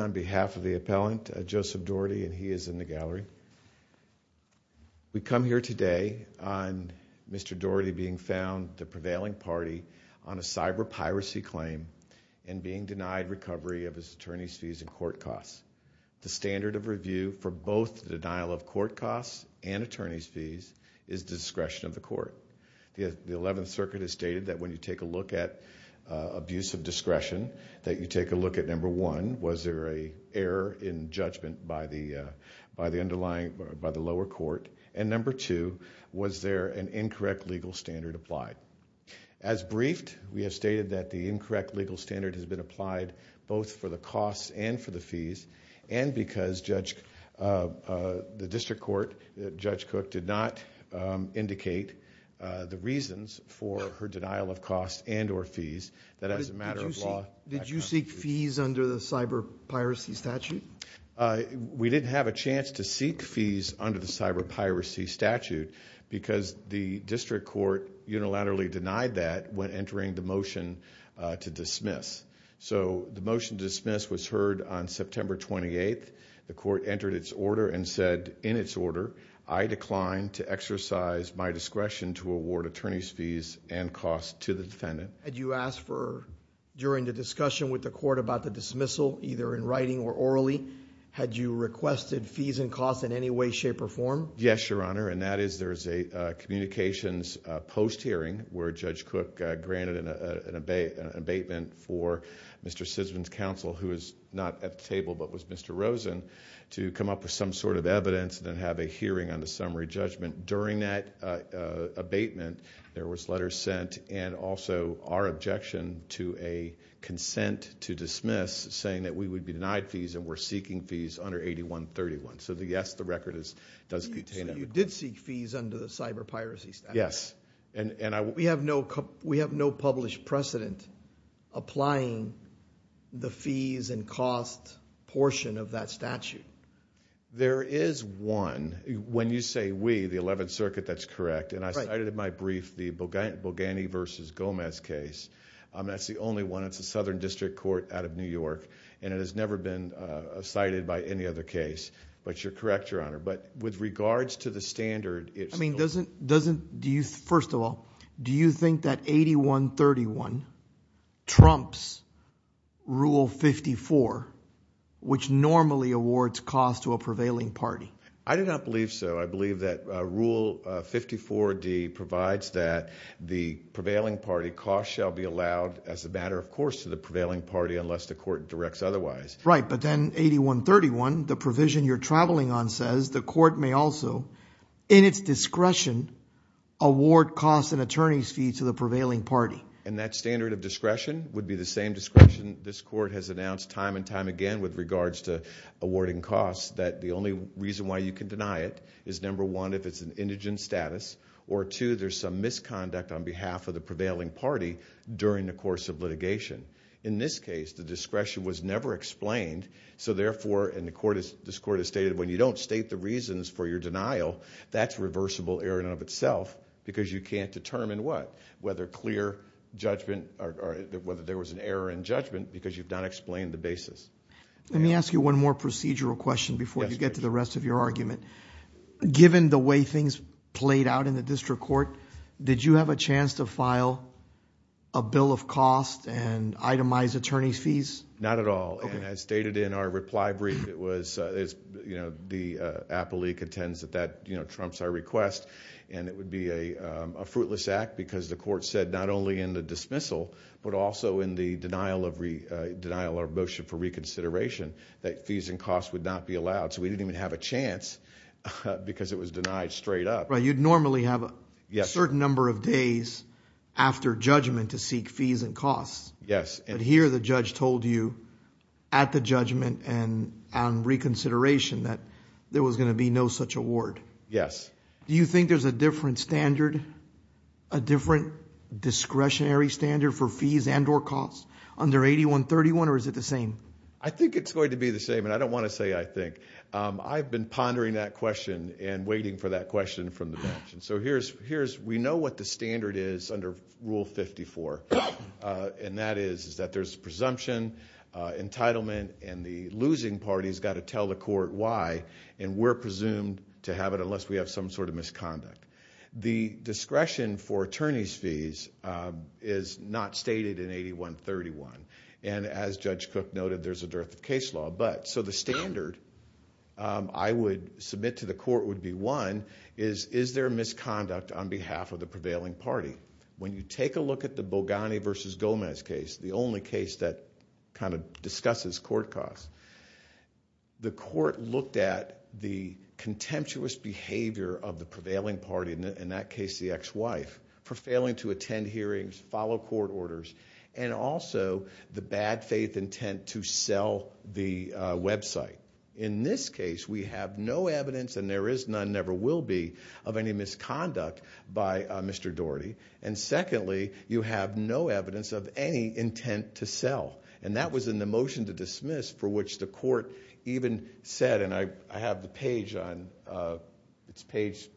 on behalf of the appellant Joseph Dougherty and he is in the gallery. We come here today on Mr. Dougherty being found the prevailing party on a cyber piracy claim and being denied recovery of his attorney's fees and court costs. The standard of review for both denial of court costs and attorney's fees is discretion of the court. The 11th circuit has stated that when you take a look at abuse of discretion that you take a look at number one was there a error in judgment by the underlying by the lower court and number two was there an incorrect legal standard applied. As briefed we have stated that the incorrect legal standard has been applied both for the costs and for the fees and because the district court Judge Cook did not indicate the reasons for her denial of costs and or fees that as a matter of law. Did you seek fees under the cyber piracy statute? We didn't have a chance to seek fees under the cyber piracy statute because the district court unilaterally denied that when entering the motion to dismiss. So the motion to dismiss was heard on September 28th. The court entered its order and said in its order I declined to exercise my discretion to award attorney's fees and costs to the defendant. Had you asked for during the discussion with the court about the dismissal either in writing or orally? Had you requested fees and costs in any way shape or form? Yes your honor and that is there is a communications post hearing where Judge Cook granted an abatement for Mr. Sisman's counsel who is not at the table but was Mr. Rosen to come up with some sort of evidence and then have a hearing on the summary judgment. During that abatement there was letters sent and also our objection to a consent to dismiss saying that we would be denied fees and were seeking fees under 8131. So yes the record does contain that. So you did seek fees under the cyber piracy statute? Yes. We have no published precedent applying the fees and cost portion of that statute? There is one. When you say we, the 11th circuit that's correct and I cited in my brief the Boggani v. Gomez case. That's the only one. It's a southern district court out of New York and it has never been cited by any other case. But you're correct your honor but with regards to the standard. I mean doesn't, first of all, do you think that 8131 trumps Rule 54 which normally awards cost to a prevailing party? I do not believe so. I believe that Rule 54D provides that the prevailing party cost shall be allowed as a matter of course to the prevailing party unless the court directs otherwise. Right but then 8131, the provision you're traveling on says the court may also, in its discretion, award cost and attorney's fees to the prevailing party. And that standard of discretion would be the same discretion this court has announced time and time again with regards to awarding costs that the only reason why you can deny it is number one if it's an indigent status or two, there's some misconduct on behalf of the prevailing party during the course of litigation. In this case, the discretion was never explained so therefore, and this court has stated, when you don't state the reasons for your denial, that's reversible error in and of itself because you can't determine what? Whether clear judgment or whether there was an error in judgment because you've not explained the basis. Let me ask you one more procedural question before you get to the rest of your argument. Given the way things played out in the district court, did you have a chance to file a bill of cost and itemize attorney's fees? Not at all. And as stated in our reply brief, it was, you know, the appellee contends that that, you know, trumps our request and it would be a fruitless act because the court said not only in the dismissal but also in the denial of motion for reconsideration that fees and costs would not be allowed so we didn't even have a chance because it was Right, you'd normally have a certain number of days after judgment to seek fees and costs. Yes. But here the judge told you at the judgment and on reconsideration that there was going to be no such award. Yes. Do you think there's a different standard, a different discretionary standard for fees and or costs under 8131 or is it the same? I think it's going to be the same and I don't want to say I think. I've been pondering that question and waiting for that question from the bench. So here's, we know what the standard is under Rule 54 and that is that there's presumption, entitlement and the losing party's got to tell the court why and we're presumed to have it unless we have some sort of misconduct. The discretion for attorney's fees is not stated in 8131 and as Judge Cook noted there's a dearth of is there misconduct on behalf of the prevailing party? When you take a look at the Bogani versus Gomez case, the only case that kind of discusses court costs, the court looked at the contemptuous behavior of the prevailing party, in that case the ex-wife, for failing to attend hearings, follow court orders and also the bad faith intent to sell the website. In this case we have no evidence and there is none, never will be, of any misconduct by Mr. Daugherty and secondly you have no evidence of any intent to sell and that was in the motion to dismiss for which the court even said and I have the page on, it's page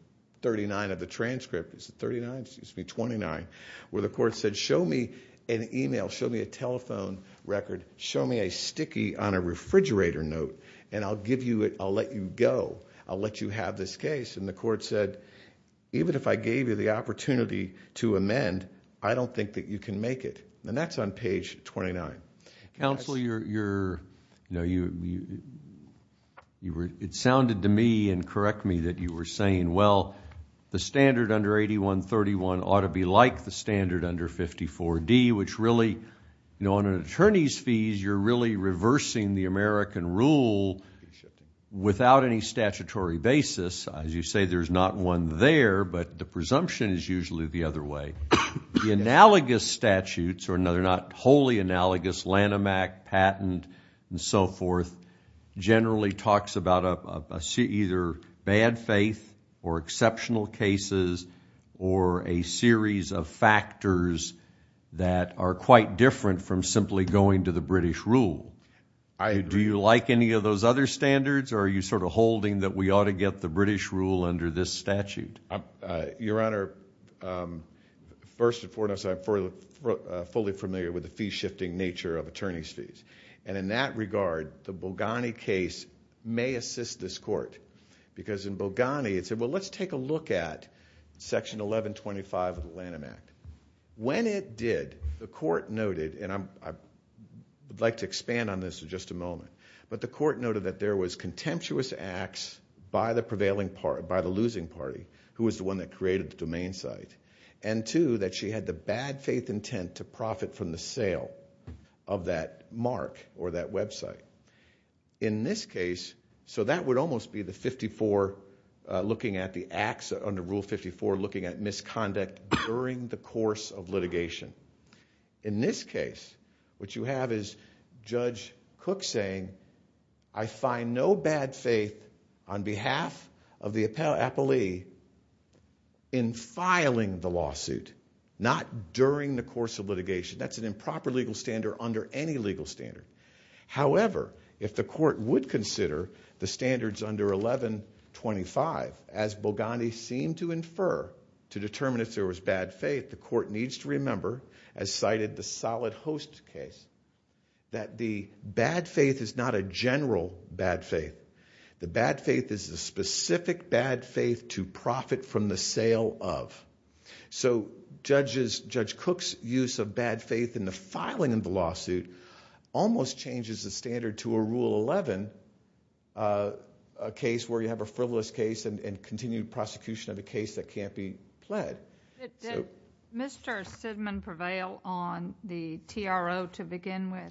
39 of the transcript, is it 39? Excuse me, 29, where the court said show me an email, show me a telephone record, show me a sticky on a refrigerator note and I'll give you it, I'll let you go, I'll let you have this case and the court said even if I gave you the opportunity to amend, I don't think that you can make it and that's on page 29. Counsel, it sounded to me and correct me that you were saying well the standard under 8131 ought to be like the standard under 54D which really on an attorney's fees you're really reversing the American rule without any statutory basis. As you say there's not one there but the presumption is usually the other way. The analogous statutes or not wholly analogous Lanham Act, patent and so forth generally talks about either bad faith or exceptional cases or a series of factors that are quite different from simply going to the British rule. Do you like any of those other standards or are you sort of holding that we ought to get the British rule under this statute? Your Honor, first and foremost I'm fully familiar with the fee shifting nature of attorney's fees and in that regard the Boghani case may assist this court because in Boghani it said well let's take a look at section 1125 of the Lanham Act. When it did the court noted and I'd like to expand on this in just a moment but the court noted that there was contemptuous acts by the prevailing party, by the losing party who was the one that created the domain site and two that she had the bad faith intent to profit from the sale of that mark or that the acts under Rule 54 looking at misconduct during the course of litigation. In this case what you have is Judge Cook saying I find no bad faith on behalf of the appellee in filing the lawsuit not during the course of litigation. That's an improper legal standard under any legal standard. However, if the court would consider the standards under 1125 as Boghani seemed to infer to determine if there was bad faith the court needs to remember as cited the solid host case that the bad faith is not a general bad faith. The bad faith is the specific bad faith to profit from the sale of. So Judge Cook's use of bad faith in the filing of the lawsuit almost changes the standard to a Rule 11 case where you have a frivolous case and continued prosecution of the case that can't be pled. Did Mr. Sidman prevail on the TRO to begin with?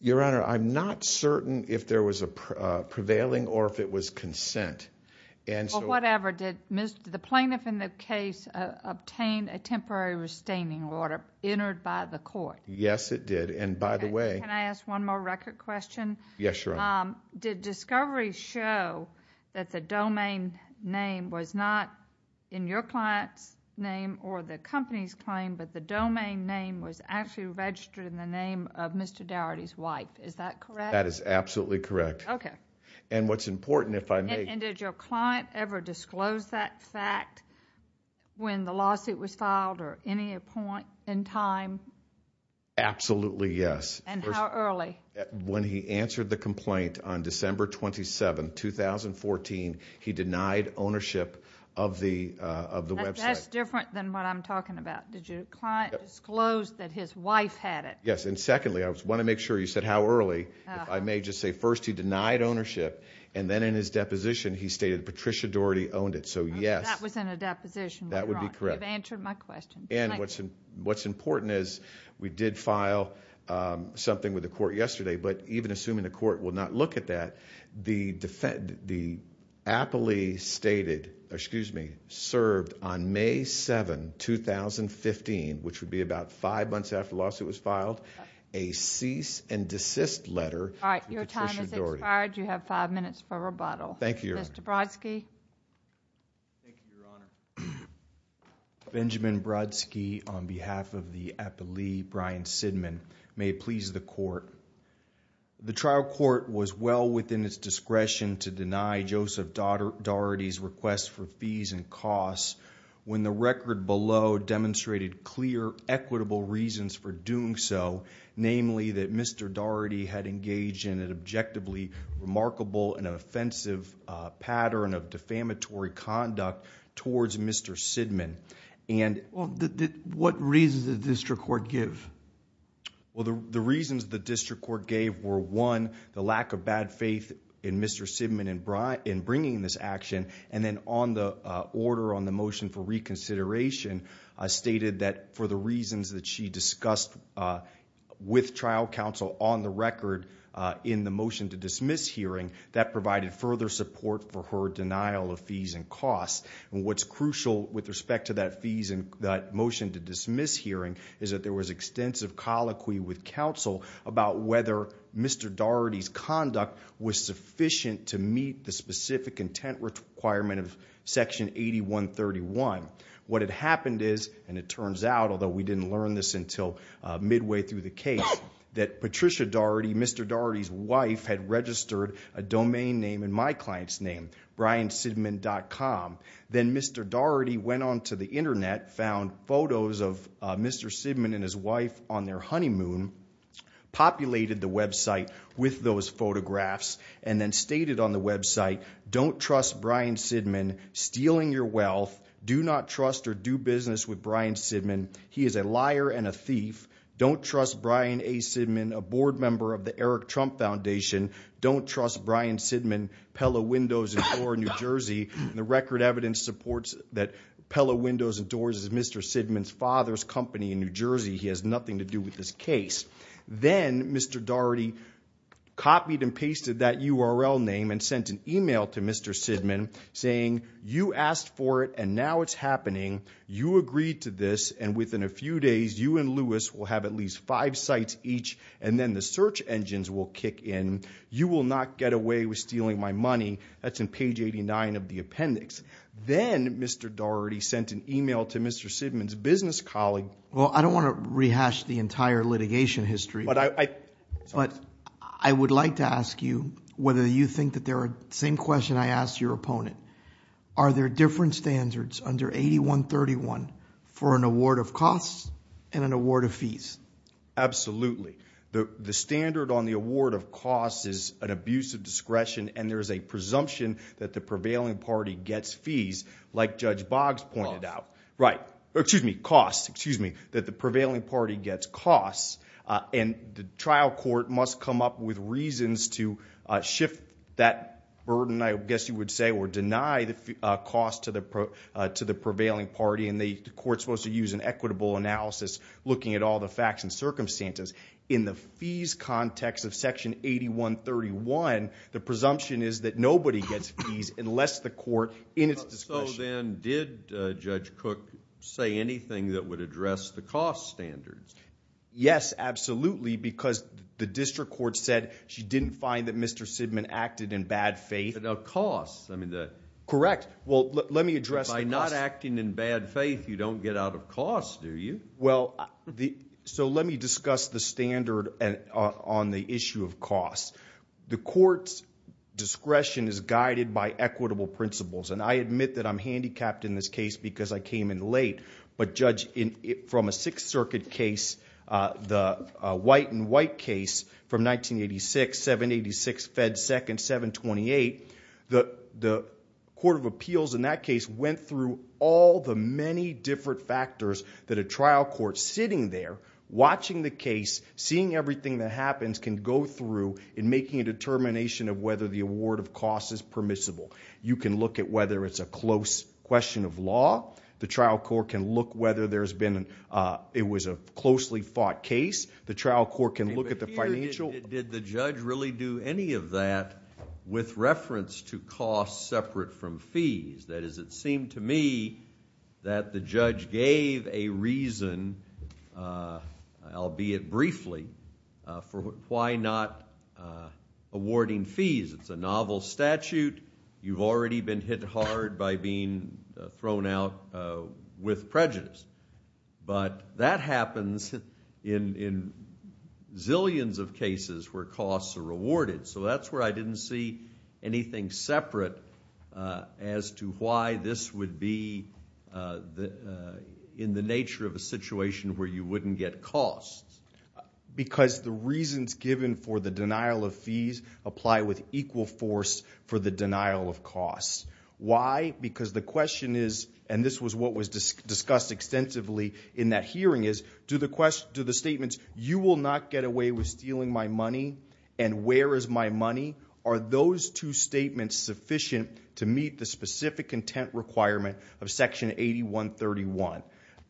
Your Honor, I'm not certain if there was a prevailing or if it was consent. Whatever, did the plaintiff in the case obtain a temporary restraining order entered by the court? Yes it did and by the way. Can I ask one more record question? Yes, Your Honor. Did discovery show that the domain name was not in your client's name or the company's claim but the domain name was actually registered in the name of Mr. Dougherty's wife? Is that correct? That is absolutely correct. Okay. And what's important if I may... And did your client ever disclose that fact when the lawsuit was filed or any point in time? Absolutely yes. And how early? When he answered the complaint on December 27, 2014, he denied ownership of the website. That's different than what I'm talking about. Did your client disclose that his wife had it? Yes and secondly I want to make sure you said how early. If I may just say first he denied ownership and then in his deposition he stated Patricia Dougherty owned it. So yes. That was in a deposition. That would What's important is we did file something with the court yesterday but even assuming the court will not look at that, the appellee stated, excuse me, served on May 7, 2015, which would be about five months after the lawsuit was filed, a cease and desist letter to Patricia Dougherty. Alright, your time has expired. You have five minutes for rebuttal. Thank you, Your Honor. Mr. Brodsky. Thank you, Your Honor. Benjamin Brodsky on behalf of the appellee, Brian Sidman. May it please the court. The trial court was well within its discretion to deny Joseph Dougherty's request for fees and costs when the record below demonstrated clear equitable reasons for doing so, namely that Mr. Dougherty had a negative pattern of defamatory conduct towards Mr. Sidman. What reasons did the district court give? Well, the reasons the district court gave were one, the lack of bad faith in Mr. Sidman in bringing this action and then on the order on the motion for reconsideration stated that for the reasons that she discussed with trial counsel on the record in the motion to dismiss hearing, that provided further support for her denial of fees and costs. What's crucial with respect to that motion to dismiss hearing is that there was extensive colloquy with counsel about whether Mr. Dougherty's conduct was sufficient to meet the specific intent requirement of section 8131. What had happened is, and it turns out, although we didn't learn this until midway through the case, that Patricia Dougherty, Mr. Dougherty's wife had registered a domain name in my client's name, BrianSidman.com. Then Mr. Dougherty went on to the internet, found photos of Mr. Sidman and his wife on their honeymoon, populated the website with those photographs and then stated on the website, don't trust Brian Sidman stealing your wealth. Do not trust or do business with Brian Sidman. He is a liar and a thief. Don't trust Brian A. Sidman, a board member of the Eric Trump Foundation. Don't trust Brian Sidman, Pella Windows and Doors, New Jersey. The record evidence supports that Pella Windows and Doors is Mr. Sidman's father's company in New Jersey. He has nothing to do with this case. Then Mr. Dougherty copied and pasted that URL name and sent an email to Mr. Sidman saying, you asked for it and now it's happening. You agreed to this and within a few days, you and Lewis will have at least five sites each and then the search engines will kick in. You will not get away with stealing my money. That's in page 89 of the appendix. Then Mr. Dougherty sent an email to Mr. Sidman's business colleague. Well, I don't want to rehash the entire litigation history, but I would like to ask you whether you think that there are, same question I asked your opponent, are there different standards under 8131 for an award of costs and an award of fees? Absolutely. The standard on the award of costs is an abuse of discretion and there is a presumption that the prevailing party gets fees like Judge Boggs pointed out. Right. Excuse me, costs. Excuse me. That the prevailing party gets costs and the trial court must come up with to the prevailing party and the court is supposed to use an equitable analysis looking at all the facts and circumstances. In the fees context of section 8131, the presumption is that nobody gets fees unless the court, in its discretion. So then, did Judge Cook say anything that would address the cost standards? Yes, absolutely, because the district court said she didn't find that Mr. Sidman acted in bad faith. But the cost, I mean the... Correct. Well, let me address the cost. By not acting in bad faith, you don't get out of cost, do you? Well, so let me discuss the standard on the issue of costs. The court's discretion is guided by equitable principles and I admit that I'm handicapped in this case because I came in late, but Judge, from a Sixth Circuit case, the white and white case from 1986, 786, Fed 2nd, 728, the court of appeals in that case went through all the many different factors that a trial court sitting there, watching the case, seeing everything that happens can go through in making a determination of whether the award of costs is permissible. You can look at whether it's a close question of law. The trial court can look whether there's been a, it was a closely fought case. The trial court can look at the financial... Did the judge really do any of that with reference to costs separate from fees? That is, it seemed to me that the judge gave a reason, albeit briefly, for why not awarding fees. It's a novel statute. You've already been hit hard by being thrown out with prejudice. But that is where I didn't see anything separate as to why this would be in the nature of a situation where you wouldn't get costs. Because the reasons given for the denial of fees apply with equal force for the denial of costs. Why? Because the question is, and this was what was discussed extensively in that hearing is, do the statements, you will not get away with stealing my money, and where is my money? Are those two statements sufficient to meet the specific intent requirement of section 8131?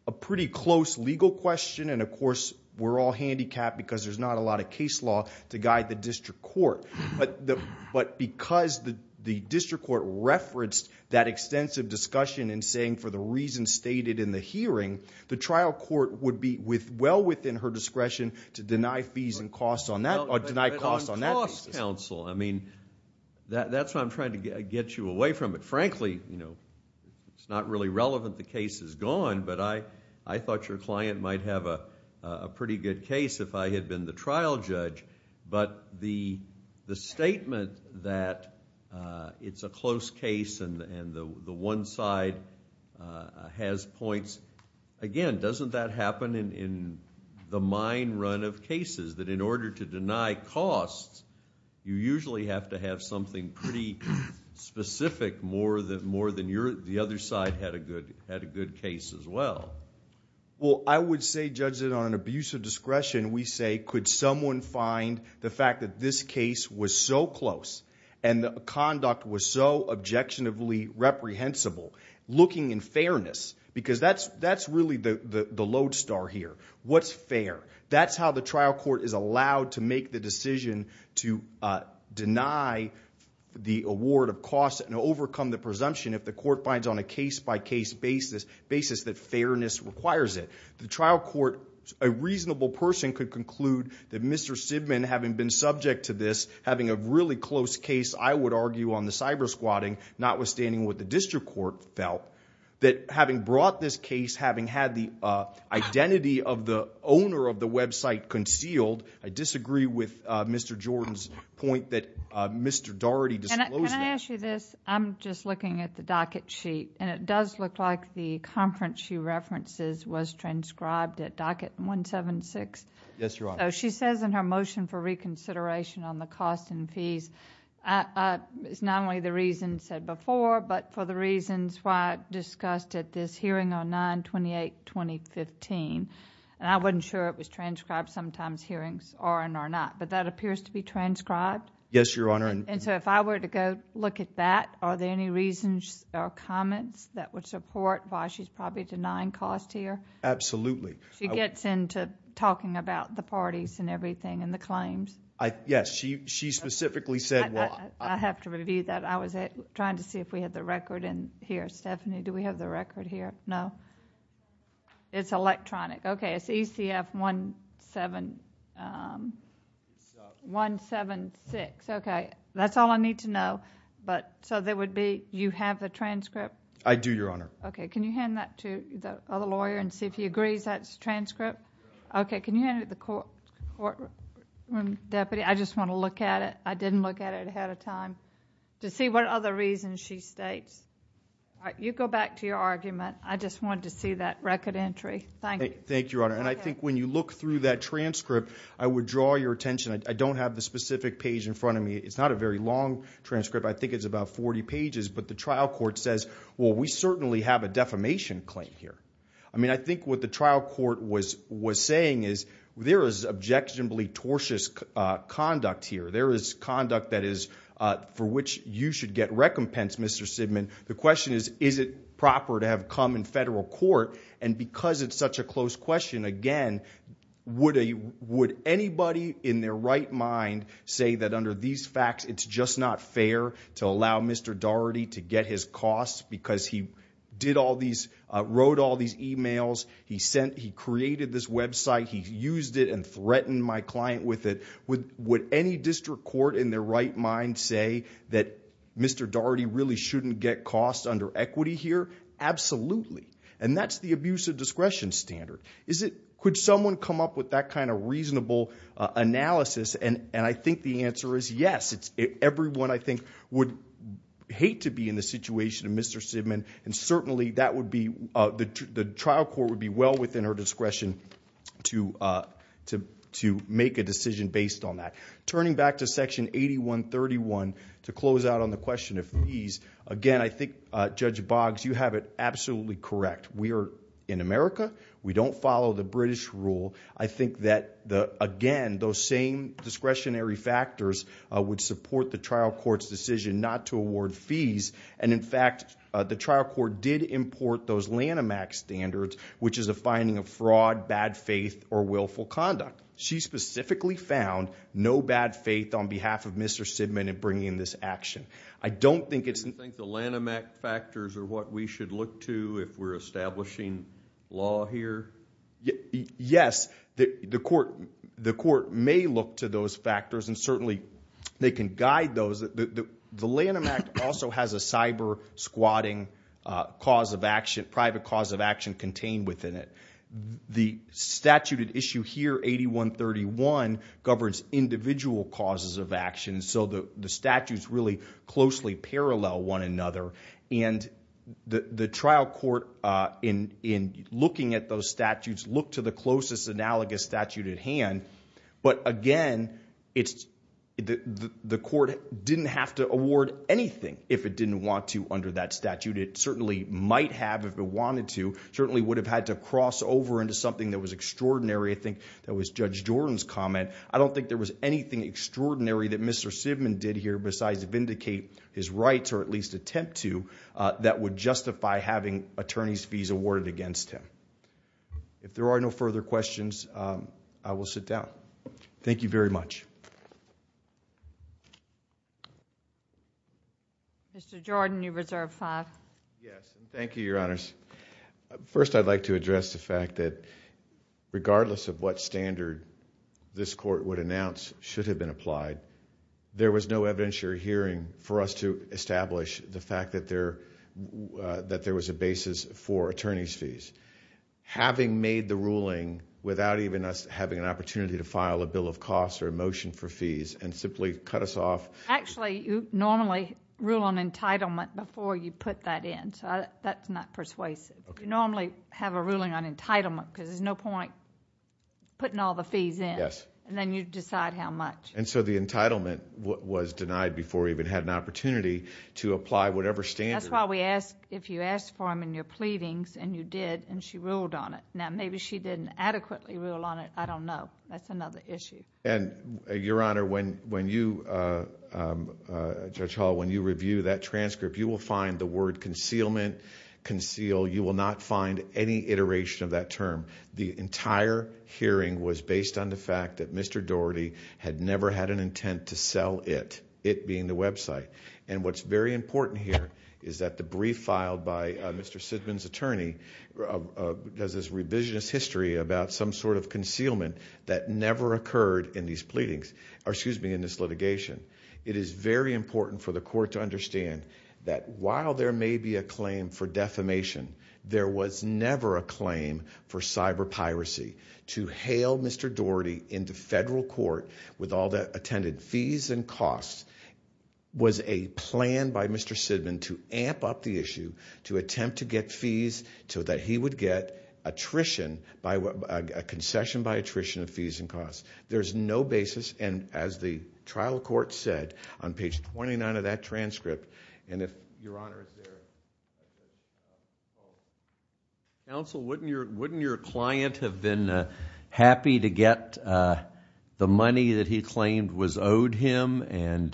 A pretty close legal question, and of course we're all handicapped because there's not a lot of case law to guide the district court. But because the district court referenced that extensive discussion in saying for the reasons stated in the hearing, the trial court would be well within her discretion to deny fees and costs on that, or deny costs on that basis. But on cost counsel, I mean, that's what I'm trying to get you away from. Frankly, it's not really relevant the case is gone, but I thought your client might have a pretty good case if I had been the trial judge. But the statement that it's a close case and the one side has points, again, doesn't that happen in the mine run of cases? That in order to deny costs, you usually have to have something pretty specific more than your, the other side had a good case as well. Well, I would say, Judge, that on abuse of discretion, we say, could someone find the fact that this case was so close, and the conduct was so objectionably reprehensible, looking in fairness, because that's really the lodestar here. What's fair? That's how the trial court is allowed to make the decision to deny the award of costs and overcome the presumption if the court finds on a case-by-case basis that fairness requires it. The trial court, a reasonable person could conclude that Mr. Sidman, having been subject to this, having a really close case, I would argue, on the cyber squatting, notwithstanding what the district court felt, that having brought this case, having had the identity of the owner of the website concealed, I disagree with Mr. Jordan's point that Mr. Daugherty disclosed it. Can I ask you this? I'm just looking at the docket sheet, and it does look like the conference she references was transcribed at docket 176. Yes, Your Honor. So she says in her motion for reconsideration on the cost and fees, it's not only the reason said before, but for the reasons why discussed at this hearing on 9-28-2015, and I wasn't sure it was transcribed. Sometimes hearings are and are not, but that appears to be transcribed? Yes, Your Honor. And so if I were to go look at that, are there any reasons or comments that would support why she's probably denying cost here? Absolutely. She gets into talking about the parties and everything and the claims? Yes. She specifically said what? I have to review that. I was trying to see if we had the record in here. Stephanie, do we have the record here? No? It's electronic. Okay. It's ECF 176. Okay. That's all I need to know, but so there would be, you have the transcript? I do, Your Honor. Okay. Can you hand that to the other lawyer and see if he agrees that's transcript? Okay. Can you hand it to the courtroom deputy? I just want to look at it. I didn't look at it ahead of time to see what other reasons she states. All right. You go back to your argument. I just wanted to see that record entry. Thank you. Thank you, Your Honor. And I think when you look through that transcript, I would draw your attention. I don't have the specific page in front of me. It's not a very long transcript. I think it's about 40 pages, but the trial court says, well, we certainly have a defamation claim here. I mean, I think what the trial court was saying is there is objectionably tortious conduct here. There is conduct that is for which you should get recompense, Mr. Sidman. The question is, is it proper to have come in federal court? And because it's such a close question, again, would anybody in their right mind say that under these facts, it's just not fair to allow Mr. Daugherty to get his costs because he did all these, wrote all these emails, he sent, he created this website, he used it and threatened my client with it? Would any district court in their right mind say that Mr. Daugherty really shouldn't get costs under equity here? Absolutely. And that's the abuse of discretion standard. Is it, could someone come up with that kind of reasonable analysis? And I think the answer is yes. Everyone, I think, would hate to be in the situation of Mr. Sidman. And certainly that would be, the trial court would be well within her discretion to make a decision based on that. Turning back to section 8131 to close out on the question of fees. Again, I think Judge Boggs, you have it absolutely correct. We are in America. We don't follow the British rule. I think that the, again, those same discretionary factors would support the trial court's decision not to award fees. And in fact, the trial court did import those Lanham Act standards, which is a finding of fraud, bad faith, or willful conduct. She specifically found no bad faith on behalf of Mr. Sidman in bringing this action. I don't think it's... Are the Lanham Act factors are what we should look to if we're establishing law here? Yes. The court may look to those factors and certainly they can guide those. The Lanham Act also has a cyber squatting cause of action, private cause of action contained within it. The statute at issue here, 8131, governs individual causes of action. So the statutes really closely parallel one another. And the trial court in looking at those statutes look to the closest analogous statute at hand. But again, the court didn't have to award anything if it didn't want to under that statute. It certainly might have if it wanted to, certainly would have had to cross over into something that was extraordinary. I think that was Judge Jordan's comment. I don't think there was anything extraordinary that Mr. Sidman did here besides vindicate his rights, or at least attempt to, that would justify having attorney's fees awarded against him. If there are no further questions, I will sit down. Thank you very much. Mr. Jordan, you reserved five. Yes. Thank you, your honors. First, I'd like to address the fact that regardless of what evidence you're hearing, for us to establish the fact that there was a basis for attorney's fees, having made the ruling without even us having an opportunity to file a bill of cost or a motion for fees, and simply cut us off. Actually, you normally rule on entitlement before you put that in. So that's not persuasive. You normally have a ruling on entitlement because there's no point putting all the fees in. And then you decide how much. And so the entitlement was denied before we even had an opportunity to apply whatever standard. That's why we ask, if you ask for them in your pleadings, and you did, and she ruled on it. Now, maybe she didn't adequately rule on it. I don't know. That's another issue. And, your honor, when you, Judge Hall, when you review that transcript, you will find the word concealment, conceal. You will not find any iteration of that term. The entire hearing was based on the fact that Mr. Daugherty had never had an intent to sell it, it being the website. And what's very important here is that the brief filed by Mr. Sidman's attorney has this revisionist history about some sort of concealment that never occurred in these pleadings, or excuse me, in this litigation. It is very important for the court to understand that while there may be a claim for defamation, there was never a claim for cyber piracy. To hail Mr. Daugherty into federal court with all the attended fees and costs was a plan by Mr. Sidman to amp up the issue, to attempt to get fees so that he would get attrition, a concession by attrition of fees and costs. There's no basis, and as the trial court said, on page 29 of that transcript, and if, your counsel, wouldn't your client have been happy to get the money that he claimed was owed him and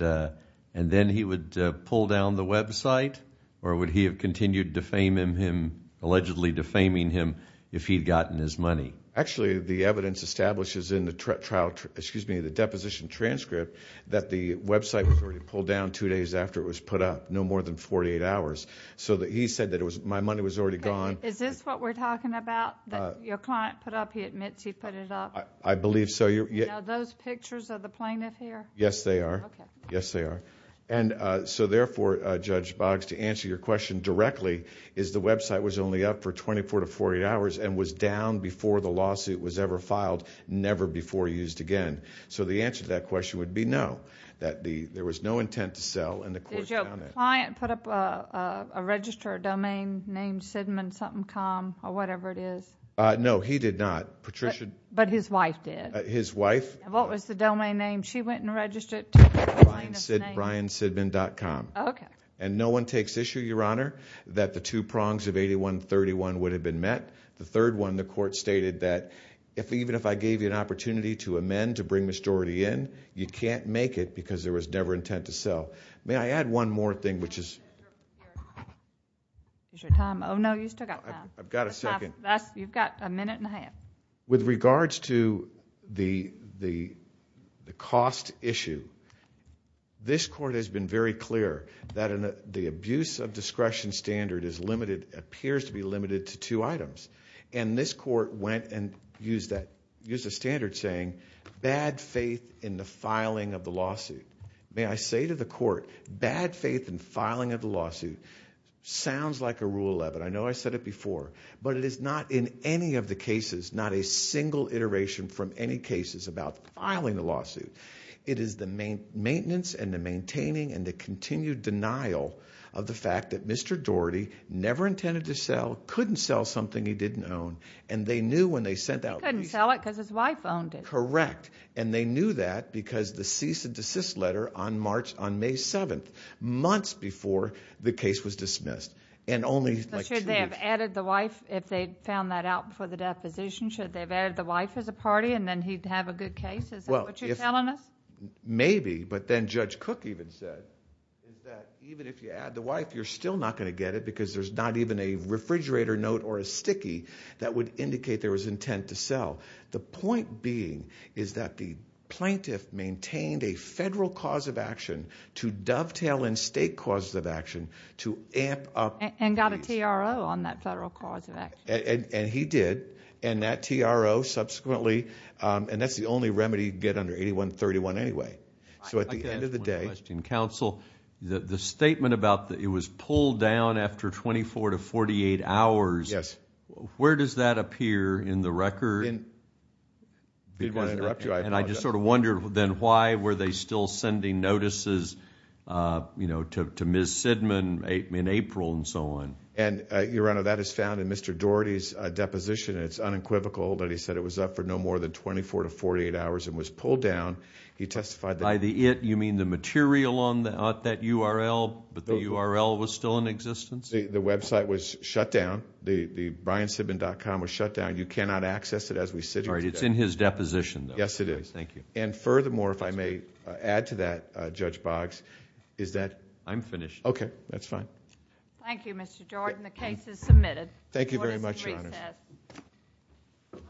then he would pull down the website? Or would he have continued defaming him, allegedly defaming him, if he'd gotten his money? Actually, the evidence establishes in the trial, excuse me, the deposition transcript, that the website was already pulled down two days after it was put up, no more than 48 hours. So he said that my money was already gone. Is this what we're talking about, that your client put up, he admits he put it up? I believe so. Those pictures of the plaintiff here? Yes, they are. Yes, they are. And so therefore, Judge Boggs, to answer your question directly, is the website was only up for 24 to 48 hours and was down before the lawsuit was ever filed, never before used again. So the answer to that question would be no, that there was no intent to sell and the court found it. Did the client put up a register, a domain name, Sidman something com, or whatever it is? No, he did not. Patricia? But his wife did. His wife? What was the domain name? She went and registered it to the plaintiff's name. BrianSidman.com. And no one takes issue, Your Honor, that the two prongs of 8131 would have been met. The third one, the court stated that even if I gave you an opportunity to amend, to bring the case forward, I would never intend to sell. May I add one more thing, which is? Is your time? Oh, no, you still got one. I've got a second. You've got a minute and a half. With regards to the cost issue, this court has been very clear that the abuse of discretion standard is limited, appears to be limited, to two items. And this court went and used a standard saying, bad faith in the filing of the lawsuit. May I say to the court, bad faith in filing of the lawsuit sounds like a rule of it. I know I said it before. But it is not in any of the cases, not a single iteration from any cases about filing the lawsuit. It is the maintenance and the maintaining and the continued denial of the fact that Mr. Daugherty never intended to sell, couldn't sell something he didn't own, and they knew when they sent out the case. He couldn't sell it because his wife owned it. Correct. And they knew that because the cease and desist letter on March, on May 7th, months before the case was dismissed, and only like two weeks. Should they have added the wife, if they found that out before the deposition, should they have added the wife as a party and then he'd have a good case? Is that what you're telling us? Maybe, but then Judge Cook even said that even if you add the wife, you're still not going to get it because there's not even a refrigerator note or a sticky that would indicate there was intent to sell. The point being is that the plaintiff maintained a federal cause of action to dovetail in state causes of action to amp up the case. And got a TRO on that federal cause of action. And he did. And that TRO subsequently, and that's the only remedy you can get under 81-31 anyway. So at the end of the day. I have one question, counsel. The statement about it was pulled down after 24 to 48 hours, Yes. Where does that appear in the record? I didn't want to interrupt you, I apologize. And I just sort of wondered then why were they still sending notices to Ms. Sidman in April and so on? And your honor, that is found in Mr. Doherty's deposition. It's unequivocal that he said it was up for no more than 24 to 48 hours and was pulled down. He testified that By the it, you mean the material on that URL, but the URL was still in existence? The website was shut down. The BrianSidman.com was shut down. You cannot access it as we sit here today. It's in his deposition though. Yes, it is. Thank you. And furthermore, if I may add to that, Judge Boggs, is that I'm finished. Okay, that's fine. Thank you, Mr. Jordan. The case is submitted. Thank you very much, your honor. Court is in recess.